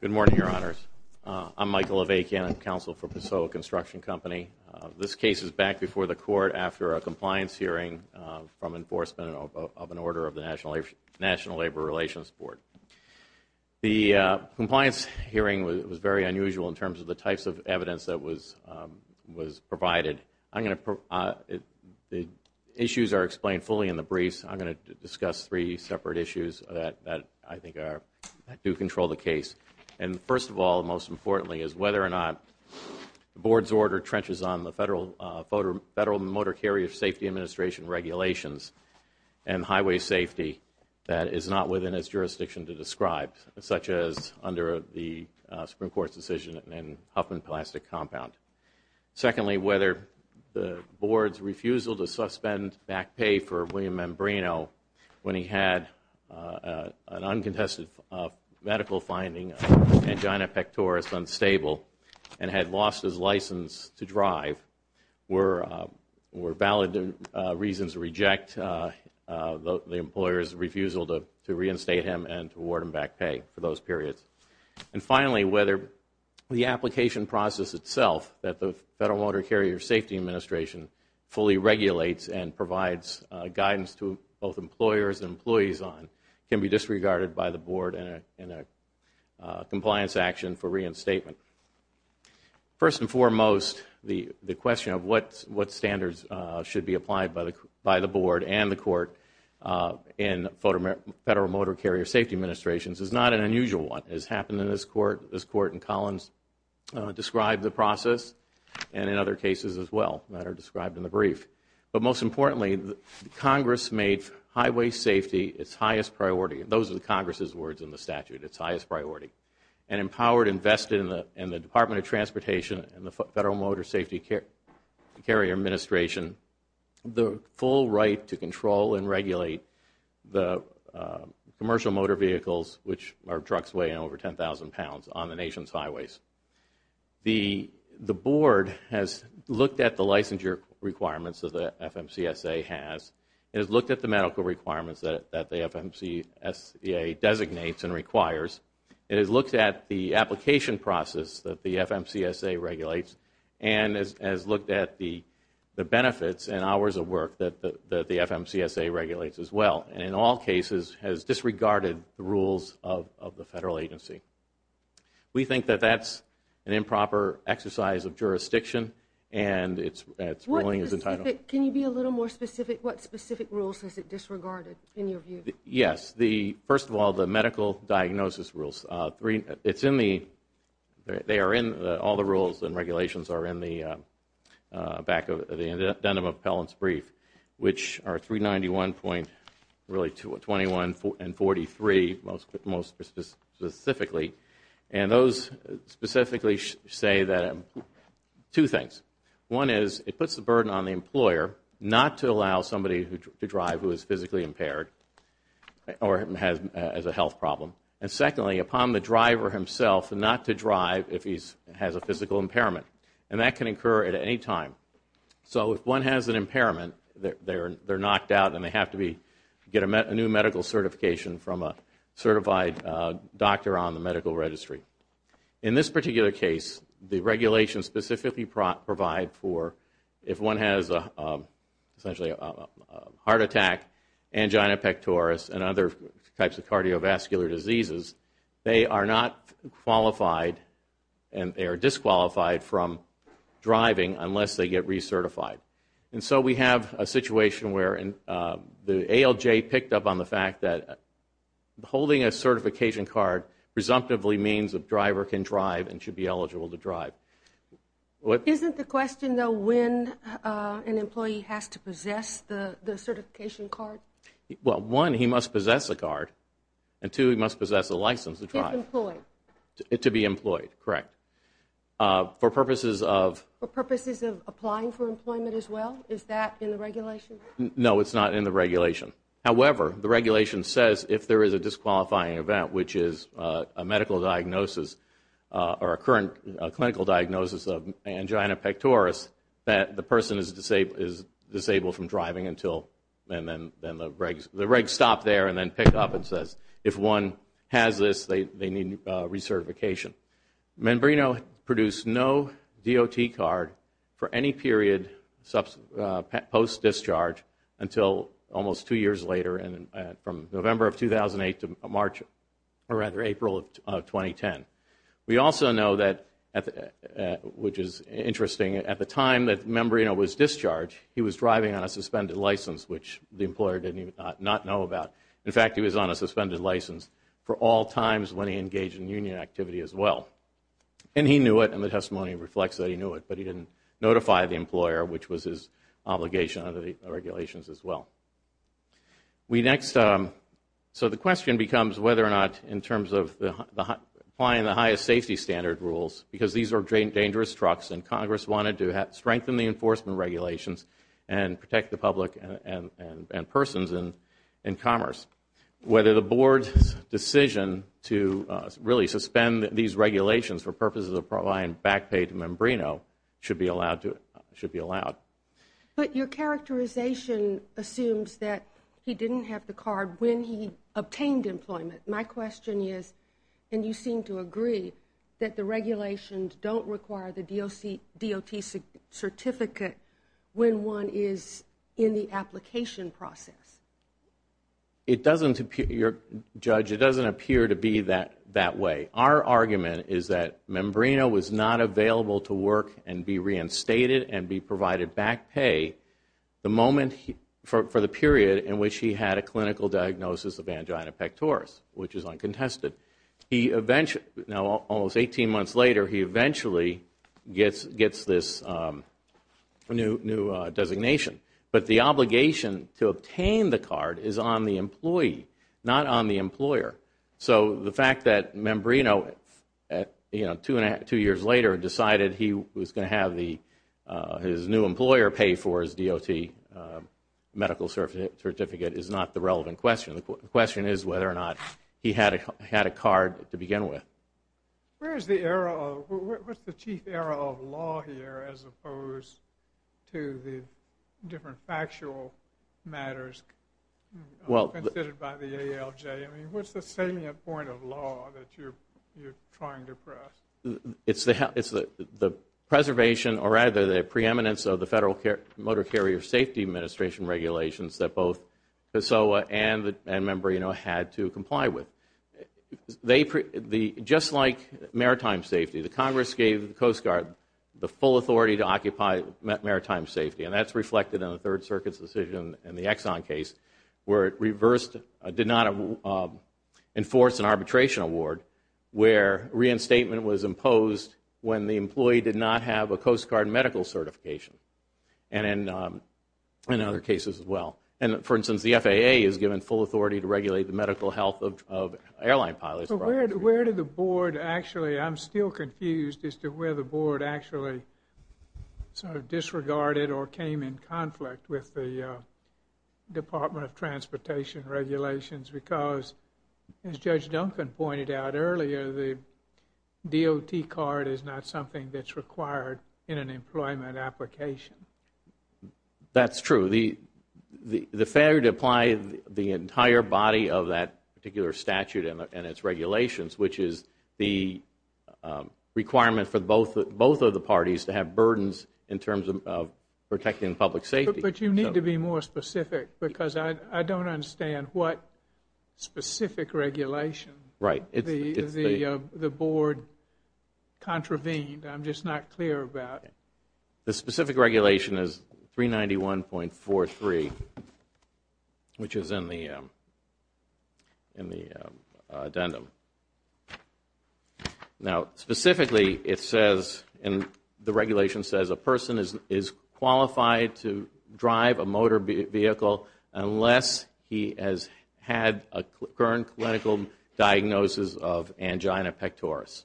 Good morning, Your Honors. I'm Michael Avakian. I'm counsel for Pessoa Construction Company. This case is back before the Court after a compliance hearing from enforcement of an order of the National Labor Relations Board. The compliance hearing was very unusual in terms of the types of evidence that was provided. The issues are explained fully in the briefs. I'm going to discuss three separate issues that I think do control the case. First of all, and most importantly, is whether or not the Board's order trenches on the Federal Motor Carrier Safety Administration regulations and highway safety that is not within its jurisdiction to describe, such as under the Supreme Court's decision in Huffman Plastic Compound. Secondly, whether the Board's refusal to suspend back pay for William Membrano when he had an uncontested medical finding of angina pectoris unstable and had lost his license to drive were valid reasons to reject the employer's refusal to reinstate him and to award him back pay for those periods. And finally, whether the application process itself that the Federal Motor Carrier Safety Administration fully regulates and provides guidance to both employers and employees on can be disregarded by the Board in a compliance action for reinstatement. First and foremost, the question of what standards should be applied by the Board and the Court in Federal Motor Carrier Safety Administrations is not an unusual one. It has happened in this Court. This Court in Collins described the process and in other cases as well that are described in the brief. But most importantly, Congress made highway safety its highest priority. Those are the Congress' words in the statute, its highest priority. And empowered, invested in the Department of Transportation and the Federal Motor Carrier Safety Administration the full right to control and regulate the commercial motor vehicles, which are trucks weighing over 10,000 pounds, on the Nation's highways. The Board has looked at the licensure requirements that the FMCSA has. It has looked at the medical requirements that the FMCSA designates and requires. It has looked at the application process that the FMCSA regulates and has looked at the benefits and hours of work that the FMCSA regulates as well. And in all cases, has disregarded the rules of the Federal agency. We think that that is an improper exercise of jurisdiction and its ruling is entitled. Can you be a little more specific? What specific rules has it disregarded in your view? Yes. First of all, the medical diagnosis rules. All the rules and regulations are in the back of the Addendum Appellants Brief, which are 391.21 and 43, most specifically. And those specifically say two things. One is it puts the burden on the employer not to allow somebody to drive who is physically impaired or has a health problem. And secondly, upon the driver himself not to drive if he has a physical impairment. And that can occur at any time. So if one has an impairment, they are knocked out and they have to get a new medical certification from a certified doctor on the medical registry. In this particular case, the regulations specifically provide for if one has essentially a heart attack, angina pectoris and other types of cardiovascular diseases, they are not qualified and they are disqualified from driving unless they get recertified. And so we have a situation where the ALJ picked up on the fact that holding a certification card presumptively means a driver can drive and should be eligible to drive. Isn't the question though when an employee has to possess the certification card? Well, one, he must possess a card and two, he must possess a license to drive. To be employed. To be employed, correct. For purposes of? Applying for employment as well? Is that in the regulation? No, it's not in the regulation. However, the regulation says if there is a disqualifying event, which is a medical diagnosis or a current clinical diagnosis of angina pectoris, that the person is disabled from driving until and then the regs stop there and then pick up and says if one has this, they need recertification. Membrano produced no DOT card for any period post-discharge until almost two years later from November of 2008 to April of 2010. We also know that, which is interesting, at the time that Membrano was discharged, he was driving on a suspended license, which the employer did not know about. In fact, he was on a suspended license for all times when he engaged in union activity as well. And he knew it and the testimony reflects that he knew it, but he didn't notify the employer, which was his obligation under the regulations as well. So the question becomes whether or not, in terms of applying the highest safety standard rules, because these are dangerous trucks and Congress wanted to strengthen the enforcement regulations and protect the public and persons in commerce, whether the Board's decision to really suspend these regulations for purposes of providing back pay to Membrano should be allowed. But your characterization assumes that he didn't have the card when he obtained employment. My question is, and you seem to agree, that the regulations don't require the DOT certificate when one is in the application process. It doesn't appear, Judge, it doesn't appear to be that way. Our argument is that Membrano was not available to work and be reinstated and be provided back pay for the period in which he had a clinical diagnosis of angina pectoris, which is uncontested. Now, almost 18 months later, he eventually gets this new designation. But the obligation to obtain the card is on the employee, not on the employer. So the fact that Membrano, two years later, decided he was going to have his new employer pay for his DOT medical certificate is not the relevant question. The question is whether or not he had a card to begin with. Where is the era of, what's the chief era of law here as opposed to the different factual matters considered by the ALJ? I mean, what's the salient point of law that you're trying to press? It's the preservation or rather the preeminence of the Federal Motor Carrier Safety Administration regulations that both PESOA and Membrano had to comply with. Just like maritime safety, the Congress gave the Coast Guard the full authority to occupy maritime safety, and that's reflected in the Third Circuit's decision in the Exxon case where it reversed, did not enforce an arbitration award where reinstatement was imposed when the employee did not have a Coast Guard medical certification and in other cases as well. And for instance, the FAA is given full authority to regulate the medical health of airline pilots. Where did the board actually, I'm still confused as to where the board actually sort of disregarded or came in conflict with the Department of Transportation regulations because as Judge Duncan pointed out earlier, the DOT card is not something that's required in an employment application. That's true. The failure to apply the entire body of that particular statute and its regulations, which is the requirement for both of the parties to have burdens in terms of protecting public safety. But you need to be more specific because I don't understand what specific regulation the board contravened. I'm just not clear about it. The specific regulation is 391.43, which is in the addendum. Now, specifically it says, the regulation says a person is qualified to drive a motor vehicle unless he has had a current clinical diagnosis of angina pectoris.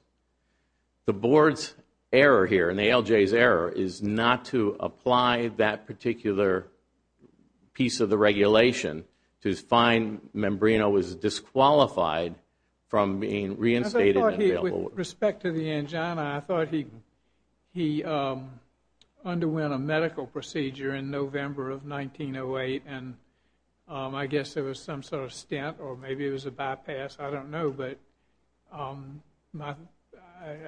The board's error here and the ALJ's error is not to apply that particular piece of the regulation to find membrano is disqualified from being reinstated. With respect to the angina, I thought he underwent a medical procedure in November of 1908 and I guess there was some sort of stint or maybe it was a bypass, I don't know. But I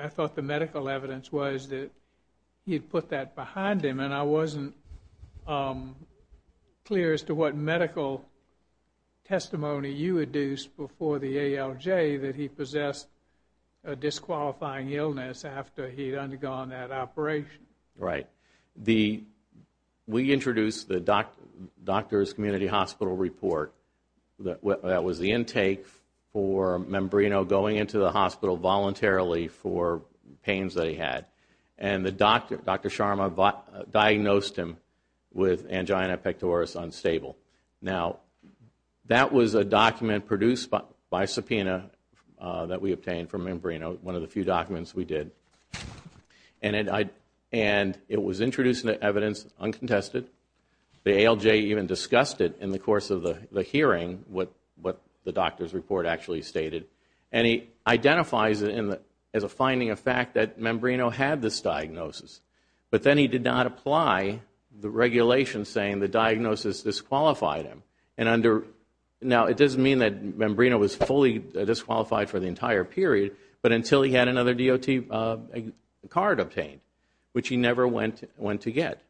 thought the medical evidence was that he had put that behind him and I wasn't clear as to what medical testimony you had used before the ALJ that he possessed a disqualifying illness after he had undergone that operation. Right. We introduced the doctor's community hospital report that was the intake for membrano going into the hospital voluntarily for pains that he had. And Dr. Sharma diagnosed him with angina pectoris unstable. Now, that was a document produced by subpoena that we obtained from membrano, one of the few documents we did. And it was introduced into evidence uncontested. The ALJ even discussed it in the course of the hearing, what the doctor's report actually stated. And he identifies it as a finding of fact that membrano had this diagnosis. But then he did not apply the regulation saying the diagnosis disqualified him. Now, it doesn't mean that membrano was fully disqualified for the entire period, but until he had another DOT card obtained, which he never went to get.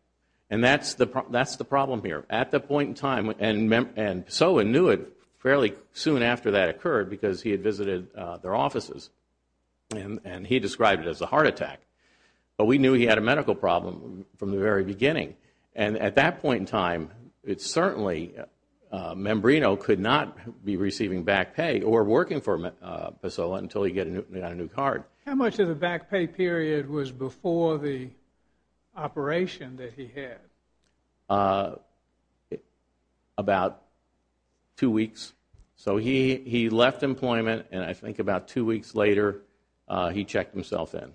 And that's the problem here. At the point in time, and Pessoa knew it fairly soon after that occurred because he had visited their offices, and he described it as a heart attack. But we knew he had a medical problem from the very beginning. And at that point in time, it's certainly membrano could not be receiving back pay or working for Pessoa until he got a new card. How much of the back pay period was before the operation that he had? About two weeks. So he left employment, and I think about two weeks later he checked himself in.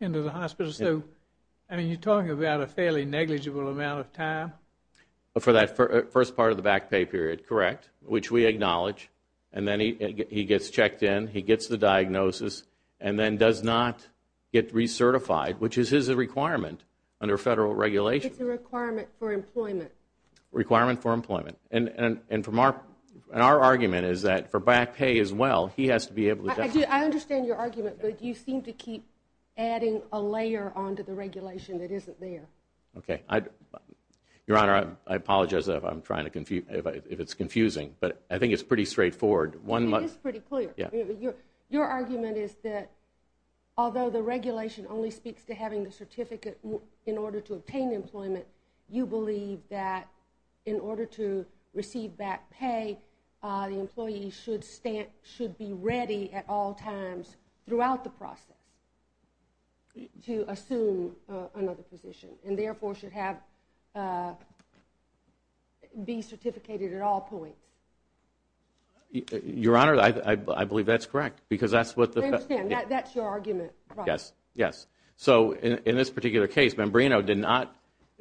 Into the hospital. So, I mean, you're talking about a fairly negligible amount of time? For that first part of the back pay period, correct, which we acknowledge. And then he gets checked in, he gets the diagnosis, and then does not get recertified, which is his requirement under Federal regulation. It's a requirement for employment. Requirement for employment. And our argument is that for back pay as well, he has to be able to get it. I understand your argument, but you seem to keep adding a layer onto the regulation that isn't there. Okay. Your Honor, I apologize if it's confusing, but I think it's pretty straightforward. It is pretty clear. Your argument is that although the regulation only speaks to having the certificate in order to obtain employment, you believe that in order to receive back pay, the employee should be ready at all times throughout the process to assume another position and therefore should be certificated at all points. Your Honor, I believe that's correct. I understand. That's your argument. Yes. Yes. So, in this particular case, Membrano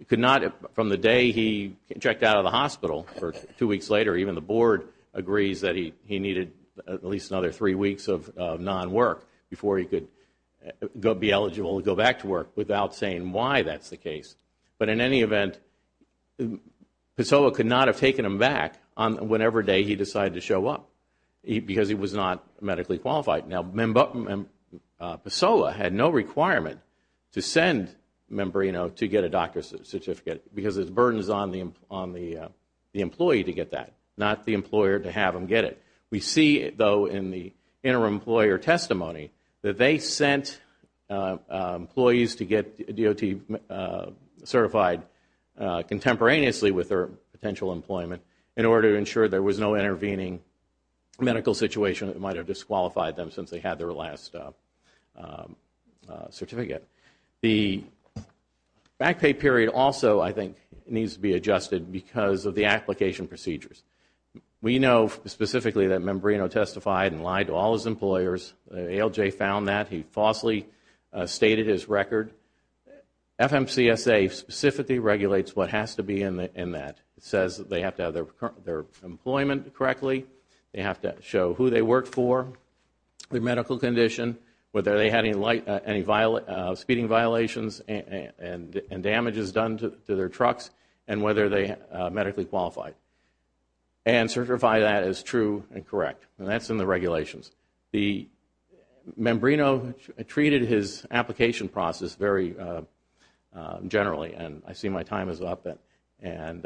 could not, from the day he checked out of the hospital, two weeks later, even the Board agrees that he needed at least another three weeks of non-work before he could be eligible to go back to work without saying why that's the case. But in any event, PASOLA could not have taken him back on whatever day he decided to show up because he was not medically qualified. Now, PASOLA had no requirement to send Membrano to get a doctor's certificate because the burden is on the employee to get that, not the employer to have him get it. We see, though, in the interim employer testimony, that they sent employees to get DOT certified contemporaneously with their potential employment in order to ensure there was no intervening medical situation that might have disqualified them since they had their last certificate. The back pay period also, I think, needs to be adjusted because of the application procedures. We know specifically that Membrano testified and lied to all his employers. ALJ found that. He falsely stated his record. FMCSA specifically regulates what has to be in that. It says they have to have their employment correctly. They have to show who they work for, their medical condition, whether they had any speeding violations and damages done to their trucks, and whether they are medically qualified. And certify that as true and correct. And that's in the regulations. Membrano treated his application process very generally, and I see my time is up. And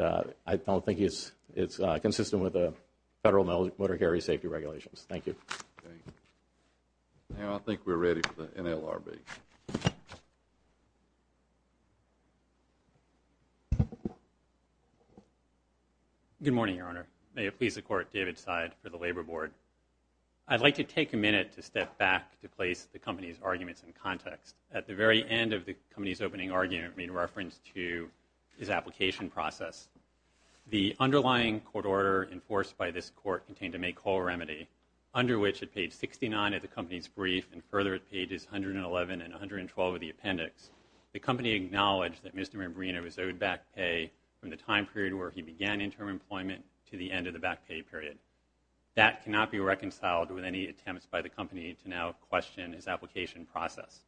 I don't think it's consistent with the federal motor carrier safety regulations. Thank you. Now I think we're ready for the NLRB. Good morning, Your Honor. May it please the Court, David Seid for the Labor Board. I'd like to take a minute to step back to place the company's arguments in context. At the very end of the company's opening argument made reference to his application process, the underlying court order enforced by this court contained a May call remedy, under which at page 69 of the company's brief and further at pages 111 and 112 of the appendix, the company acknowledged that Mr. Membrano was owed back pay from the time period where he began interim employment to the end of the back pay period. That cannot be reconciled with any attempts by the company to now question his application process.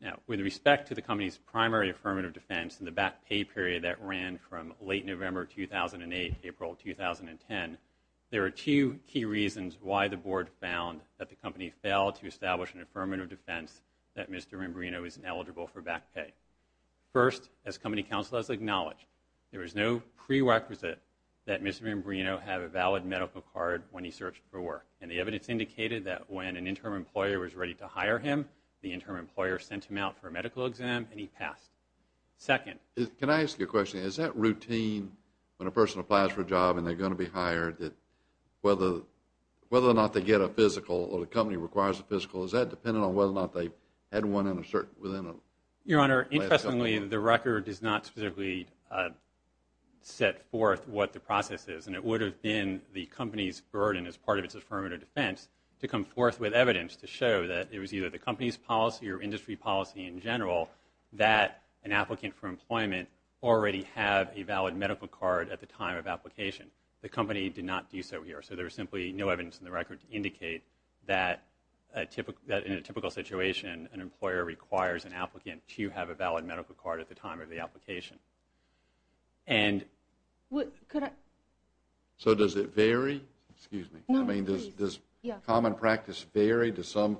Now, with respect to the company's primary affirmative defense in the back pay period that ran from late November 2008 to April 2010, there are two key reasons why the board found that the company failed to establish an affirmative defense that Mr. Membrano is ineligible for back pay. First, as company counsel has acknowledged, there is no prerequisite that Mr. Membrano have a valid medical card when he searched for work. And the evidence indicated that when an interim employer was ready to hire him, the interim employer sent him out for a medical exam and he passed. Second. Can I ask you a question? Is that routine when a person applies for a job and they're going to be hired, that whether or not they get a physical or the company requires a physical, is that dependent on whether or not they had one in a certain – within a – Your Honor, interestingly, the record does not specifically set forth what the process is, and it would have been the company's burden as part of its affirmative defense to come forth with evidence to show that it was either the company's policy or industry policy in general that an applicant for employment already have a valid medical card at the time of application. The company did not do so here, so there is simply no evidence in the record to indicate that in a typical situation an employer requires an applicant to have a valid medical card at the time of the application. And – Could I – So does it vary? Excuse me. I mean, does common practice vary? Does some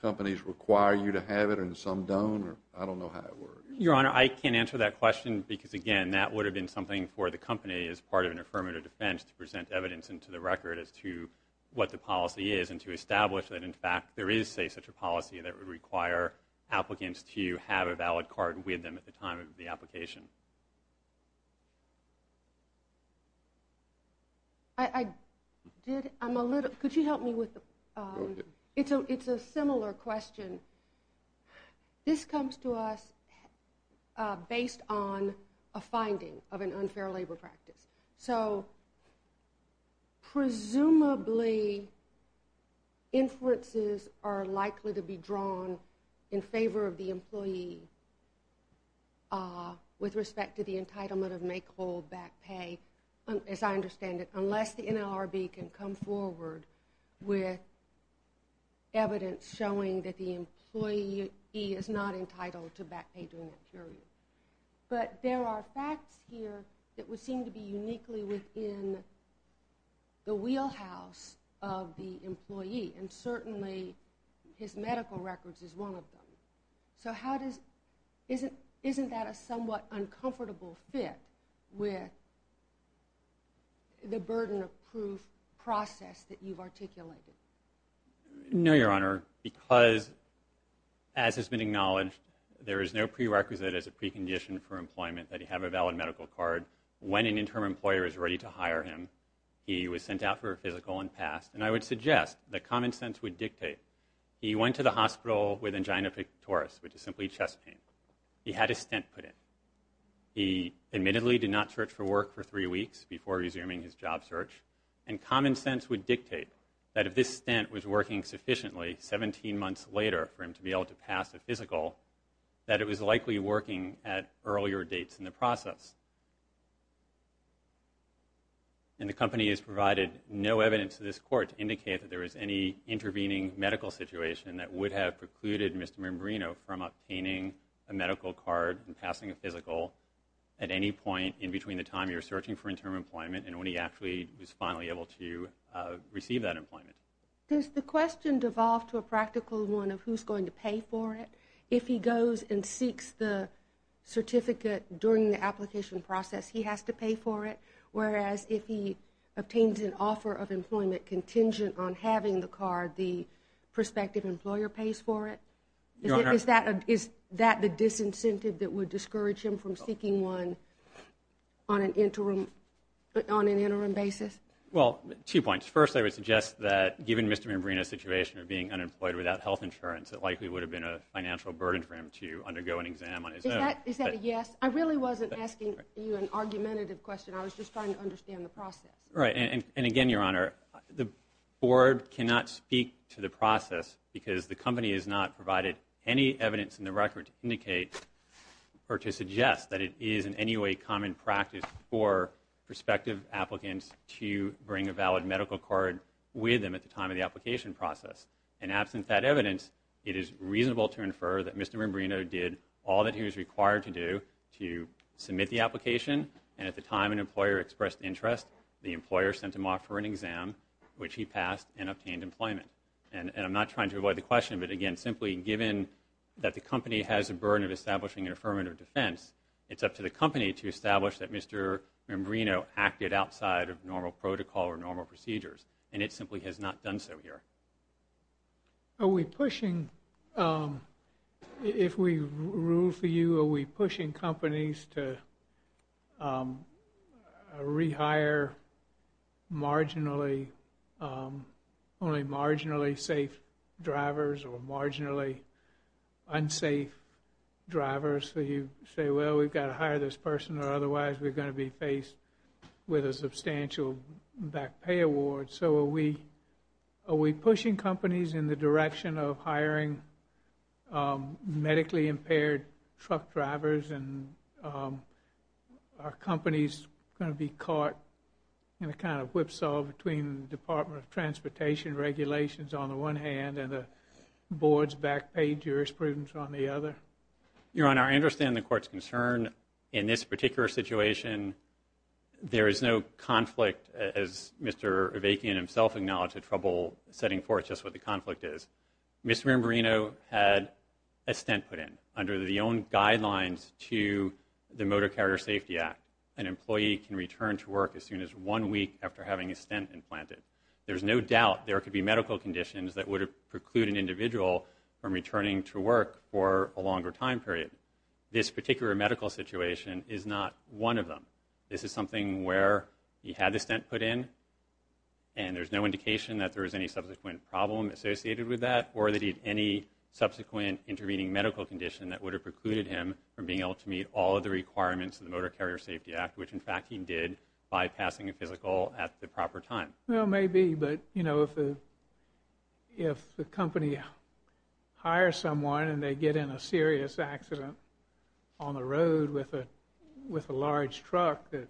companies require you to have it and some don't? I don't know how it works. Your Honor, I can't answer that question because, again, that would have been something for the company as part of an affirmative defense to present evidence into the record as to what the policy is and to establish that in fact there is, say, such a policy that would require applicants to have a valid card with them at the time of the application. I did – I'm a little – could you help me with the – Go ahead. It's a similar question. This comes to us based on a finding of an unfair labor practice. So presumably inferences are likely to be drawn in favor of the employee with respect to the entitlement of make, hold, back, pay, as I understand it, with evidence showing that the employee is not entitled to back pay during that period. But there are facts here that would seem to be uniquely within the wheelhouse of the employee, and certainly his medical records is one of them. So how does – isn't that a somewhat uncomfortable fit with the burden of proof process that you've articulated? No, Your Honor, because as has been acknowledged, there is no prerequisite as a precondition for employment that you have a valid medical card when an interim employer is ready to hire him. He was sent out for a physical and passed. And I would suggest that common sense would dictate he went to the hospital with angina pictoris, which is simply chest pain. He had a stent put in. He admittedly did not search for work for three weeks before resuming his job search, and common sense would dictate that if this stent was working sufficiently 17 months later for him to be able to pass a physical, that it was likely working at earlier dates in the process. And the company has provided no evidence to this Court to indicate that there was any intervening medical situation that would have precluded Mr. Marimbrino from obtaining a medical card and passing a physical at any point in between the time you're searching for interim employment and when he actually was finally able to receive that employment. Does the question devolve to a practical one of who's going to pay for it? If he goes and seeks the certificate during the application process, he has to pay for it, whereas if he obtains an offer of employment contingent on having the card, the prospective employer pays for it? Is that the disincentive that would discourage him from seeking one on an interim basis? Well, two points. First, I would suggest that given Mr. Marimbrino's situation of being unemployed without health insurance, it likely would have been a financial burden for him to undergo an exam on his own. Is that a yes? I really wasn't asking you an argumentative question. I was just trying to understand the process. Right. And again, Your Honor, the board cannot speak to the process because the company has not provided any evidence in the record to indicate or to suggest that it is in any way common practice for prospective applicants to bring a valid medical card with them at the time of the application process. And absent that evidence, it is reasonable to infer that Mr. Marimbrino did all that he was required to do to submit the application, and at the time an employer expressed interest, the employer sent him off for an exam, which he passed, and obtained employment. And I'm not trying to avoid the question, but again, simply given that the company has a burden of establishing an affirmative defense, it's up to the company to establish that Mr. Marimbrino acted outside of normal protocol or normal procedures, and it simply has not done so here. Are we pushing, if we rule for you, are we pushing companies to rehire marginally, only marginally safe drivers or marginally unsafe drivers? So you say, well, we've got to hire this person or otherwise we're going to be faced with a substantial back pay award. So are we pushing companies in the direction of hiring medically impaired truck drivers and are companies going to be caught in a kind of whipsaw between the Department of Transportation regulations on the one hand and the board's back pay jurisprudence on the other? Your Honor, I understand the Court's concern. In this particular situation, there is no conflict, as Mr. Avakian himself acknowledged, trouble setting forth just what the conflict is. Mr. Marimbrino had a stent put in under the own guidelines to the Motor Carrier Safety Act. An employee can return to work as soon as one week after having a stent implanted. There's no doubt there could be medical conditions that would preclude an individual from returning to work for a longer time period. But this particular medical situation is not one of them. This is something where he had the stent put in and there's no indication that there was any subsequent problem associated with that or that he had any subsequent intervening medical condition that would have precluded him from being able to meet all of the requirements of the Motor Carrier Safety Act, which, in fact, he did by passing a physical at the proper time. Well, maybe, but, you know, if the company hires someone and they get in a serious accident on the road with a large truck that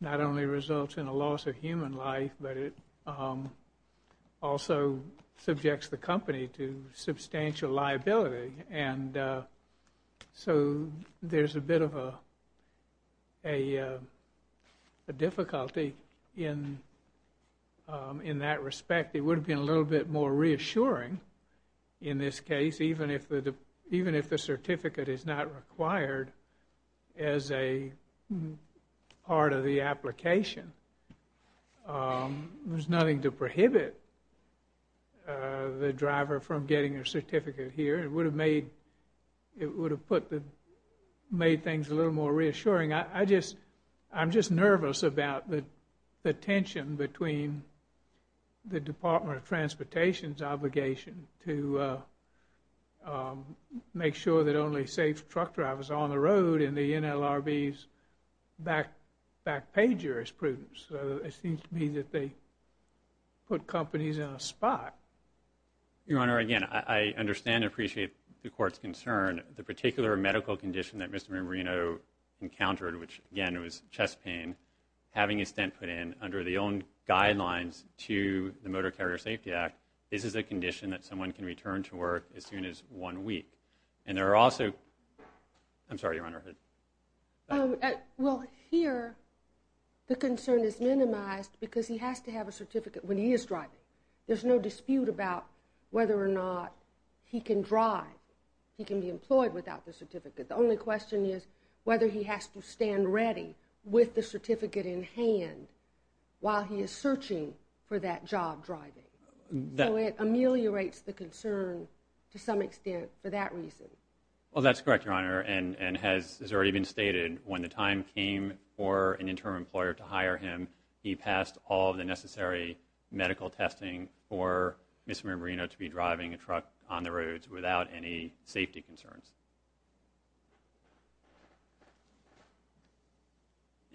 not only results in a loss of human life, but it also subjects the company to substantial liability. And so there's a bit of a difficulty in that respect. It would have been a little bit more reassuring in this case, even if the certificate is not required as a part of the application. There's nothing to prohibit the driver from getting a certificate here. It would have made things a little more reassuring. I'm just nervous about the tension between the Department of Transportation's obligation to make sure that only safe truck drivers are on the road and the NLRB's back pay jurisprudence. It seems to me that they put companies in a spot. Your Honor, again, I understand and appreciate the Court's concern. The particular medical condition that Mr. Marino encountered, which, again, was chest pain, having a stent put in under the own guidelines to the Motor Carrier Safety Act, this is a condition that someone can return to work as soon as one week. And there are also – I'm sorry, Your Honor. Well, here the concern is minimized because he has to have a certificate when he is driving. There's no dispute about whether or not he can drive, he can be employed without the certificate. The only question is whether he has to stand ready with the certificate in hand while he is searching for that job driving. So it ameliorates the concern to some extent for that reason. Well, that's correct, Your Honor, and has already been stated. When the time came for an interim employer to hire him, he passed all of the necessary medical testing for Mr. Marino to be driving a truck on the roads without any safety concerns.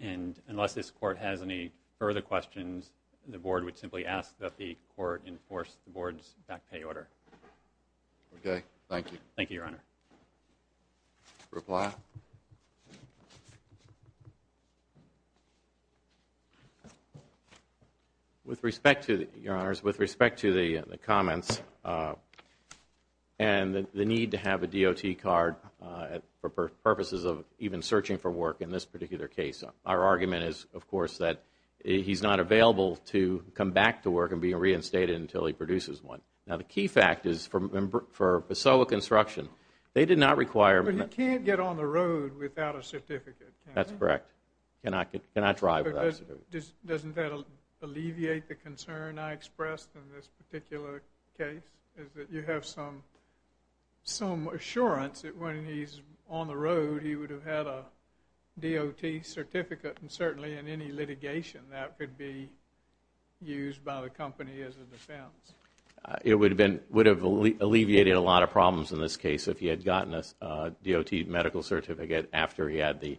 And unless this Court has any further questions, the Board would simply ask that the Court enforce the Board's back pay order. Thank you, Your Honor. Reply. With respect to – Your Honors, with respect to the comments and the need to have a DOT card for purposes of even searching for work in this particular case, our argument is, of course, that he's not available to come back to work and be reinstated until he produces one. Now, the key fact is for Basoa Construction, they did not require – But he can't get on the road without a certificate, can he? That's correct. He cannot drive without a certificate. Doesn't that alleviate the concern I expressed in this particular case, is that you have some assurance that when he's on the road, he would have had a DOT certificate, and certainly in any litigation that could be used by the company as a defense. It would have alleviated a lot of problems in this case if he had gotten a DOT medical certificate after he had the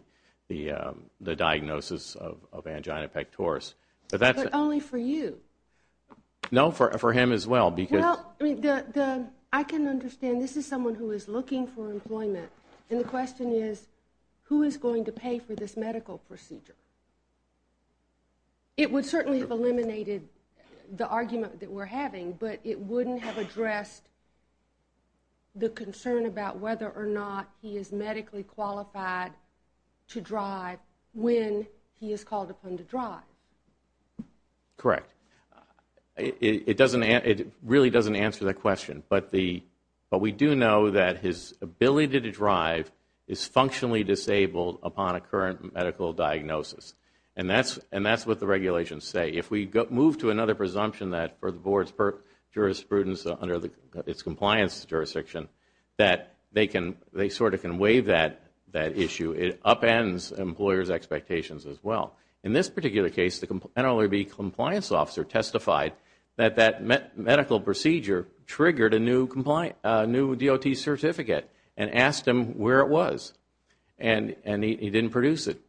diagnosis of angina pectoris. But that's – But only for you. No, for him as well, because – Well, I can understand this is someone who is looking for employment, and the question is, who is going to pay for this medical procedure? It would certainly have eliminated the argument that we're having, but it wouldn't have addressed the concern about whether or not he is medically qualified to drive when he is called upon to drive. Correct. It really doesn't answer that question, but we do know that his ability to drive is functionally disabled upon a current medical diagnosis. And that's what the regulations say. If we move to another presumption that for the Board's jurisprudence under its compliance jurisdiction, that they sort of can waive that issue. It upends employers' expectations as well. In this particular case, the NLRB compliance officer testified that that medical procedure triggered a new DOT certificate and asked him where it was. And he didn't produce it.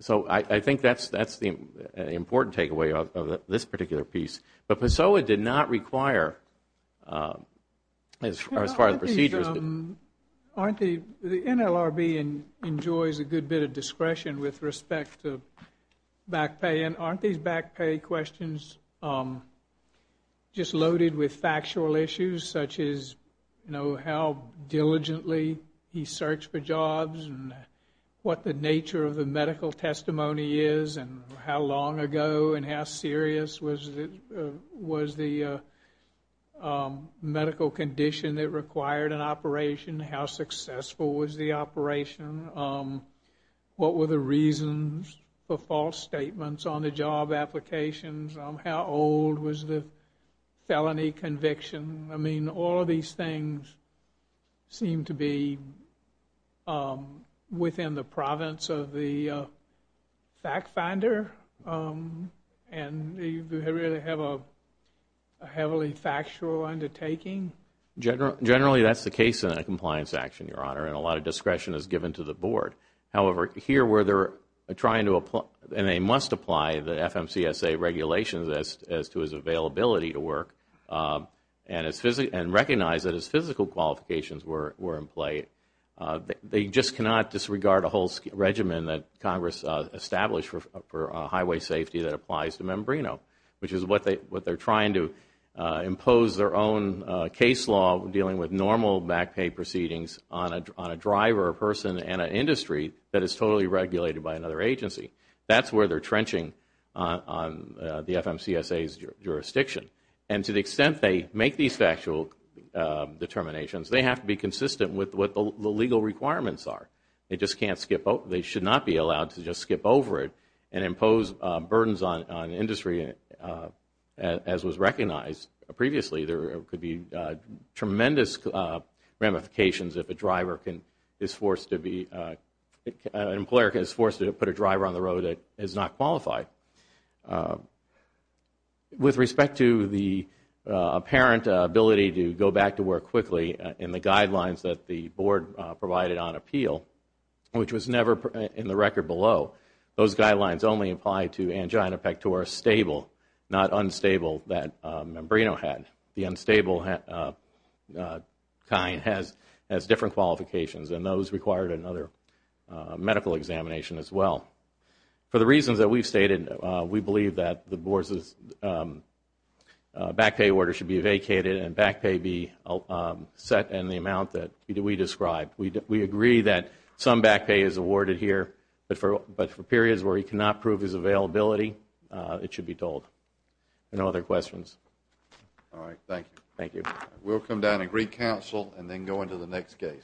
So I think that's the important takeaway of this particular piece. But PASOA did not require, as far as procedures. The NLRB enjoys a good bit of discretion with respect to back pay, and aren't these back pay questions just loaded with factual issues, such as how diligently he searched for jobs and what the nature of the medical testimony is and how long ago and how serious was the medical condition that required an operation, how successful was the operation, what were the reasons for false statements on the job applications, how old was the felony conviction. I mean, all of these things seem to be within the province of the fact finder and really have a heavily factual undertaking. Generally, that's the case in a compliance action, Your Honor, and a lot of discretion is given to the Board. However, here where they're trying to apply, and they must apply the FMCSA regulations as to his availability to work and recognize that his physical qualifications were in play, they just cannot disregard a whole regimen that Congress established for highway safety that applies to membrano, which is what they're trying to impose their own case law dealing with normal back pay proceedings on a driver, a person, and an industry that is totally regulated by another agency. That's where they're trenching on the FMCSA's jurisdiction. And to the extent they make these factual determinations, they have to be consistent with what the legal requirements are. They should not be allowed to just skip over it and impose burdens on industry as was recognized previously. There could be tremendous ramifications if an employer is forced to put a driver on the road that is not qualified. With respect to the apparent ability to go back to work quickly in the guidelines that the Board provided on appeal, which was never in the record below, those guidelines only apply to angina pectoris stable, not unstable that membrano had. The unstable kind has different qualifications, and those required another medical examination as well. For the reasons that we've stated, we believe that the Board's back pay order should be vacated and back pay be set in the amount that we described. We agree that some back pay is awarded here, but for periods where he cannot prove his availability, it should be told. Any other questions? All right. Thank you. Thank you. We'll come down and reconcile and then go into the next case. Mr. Wright.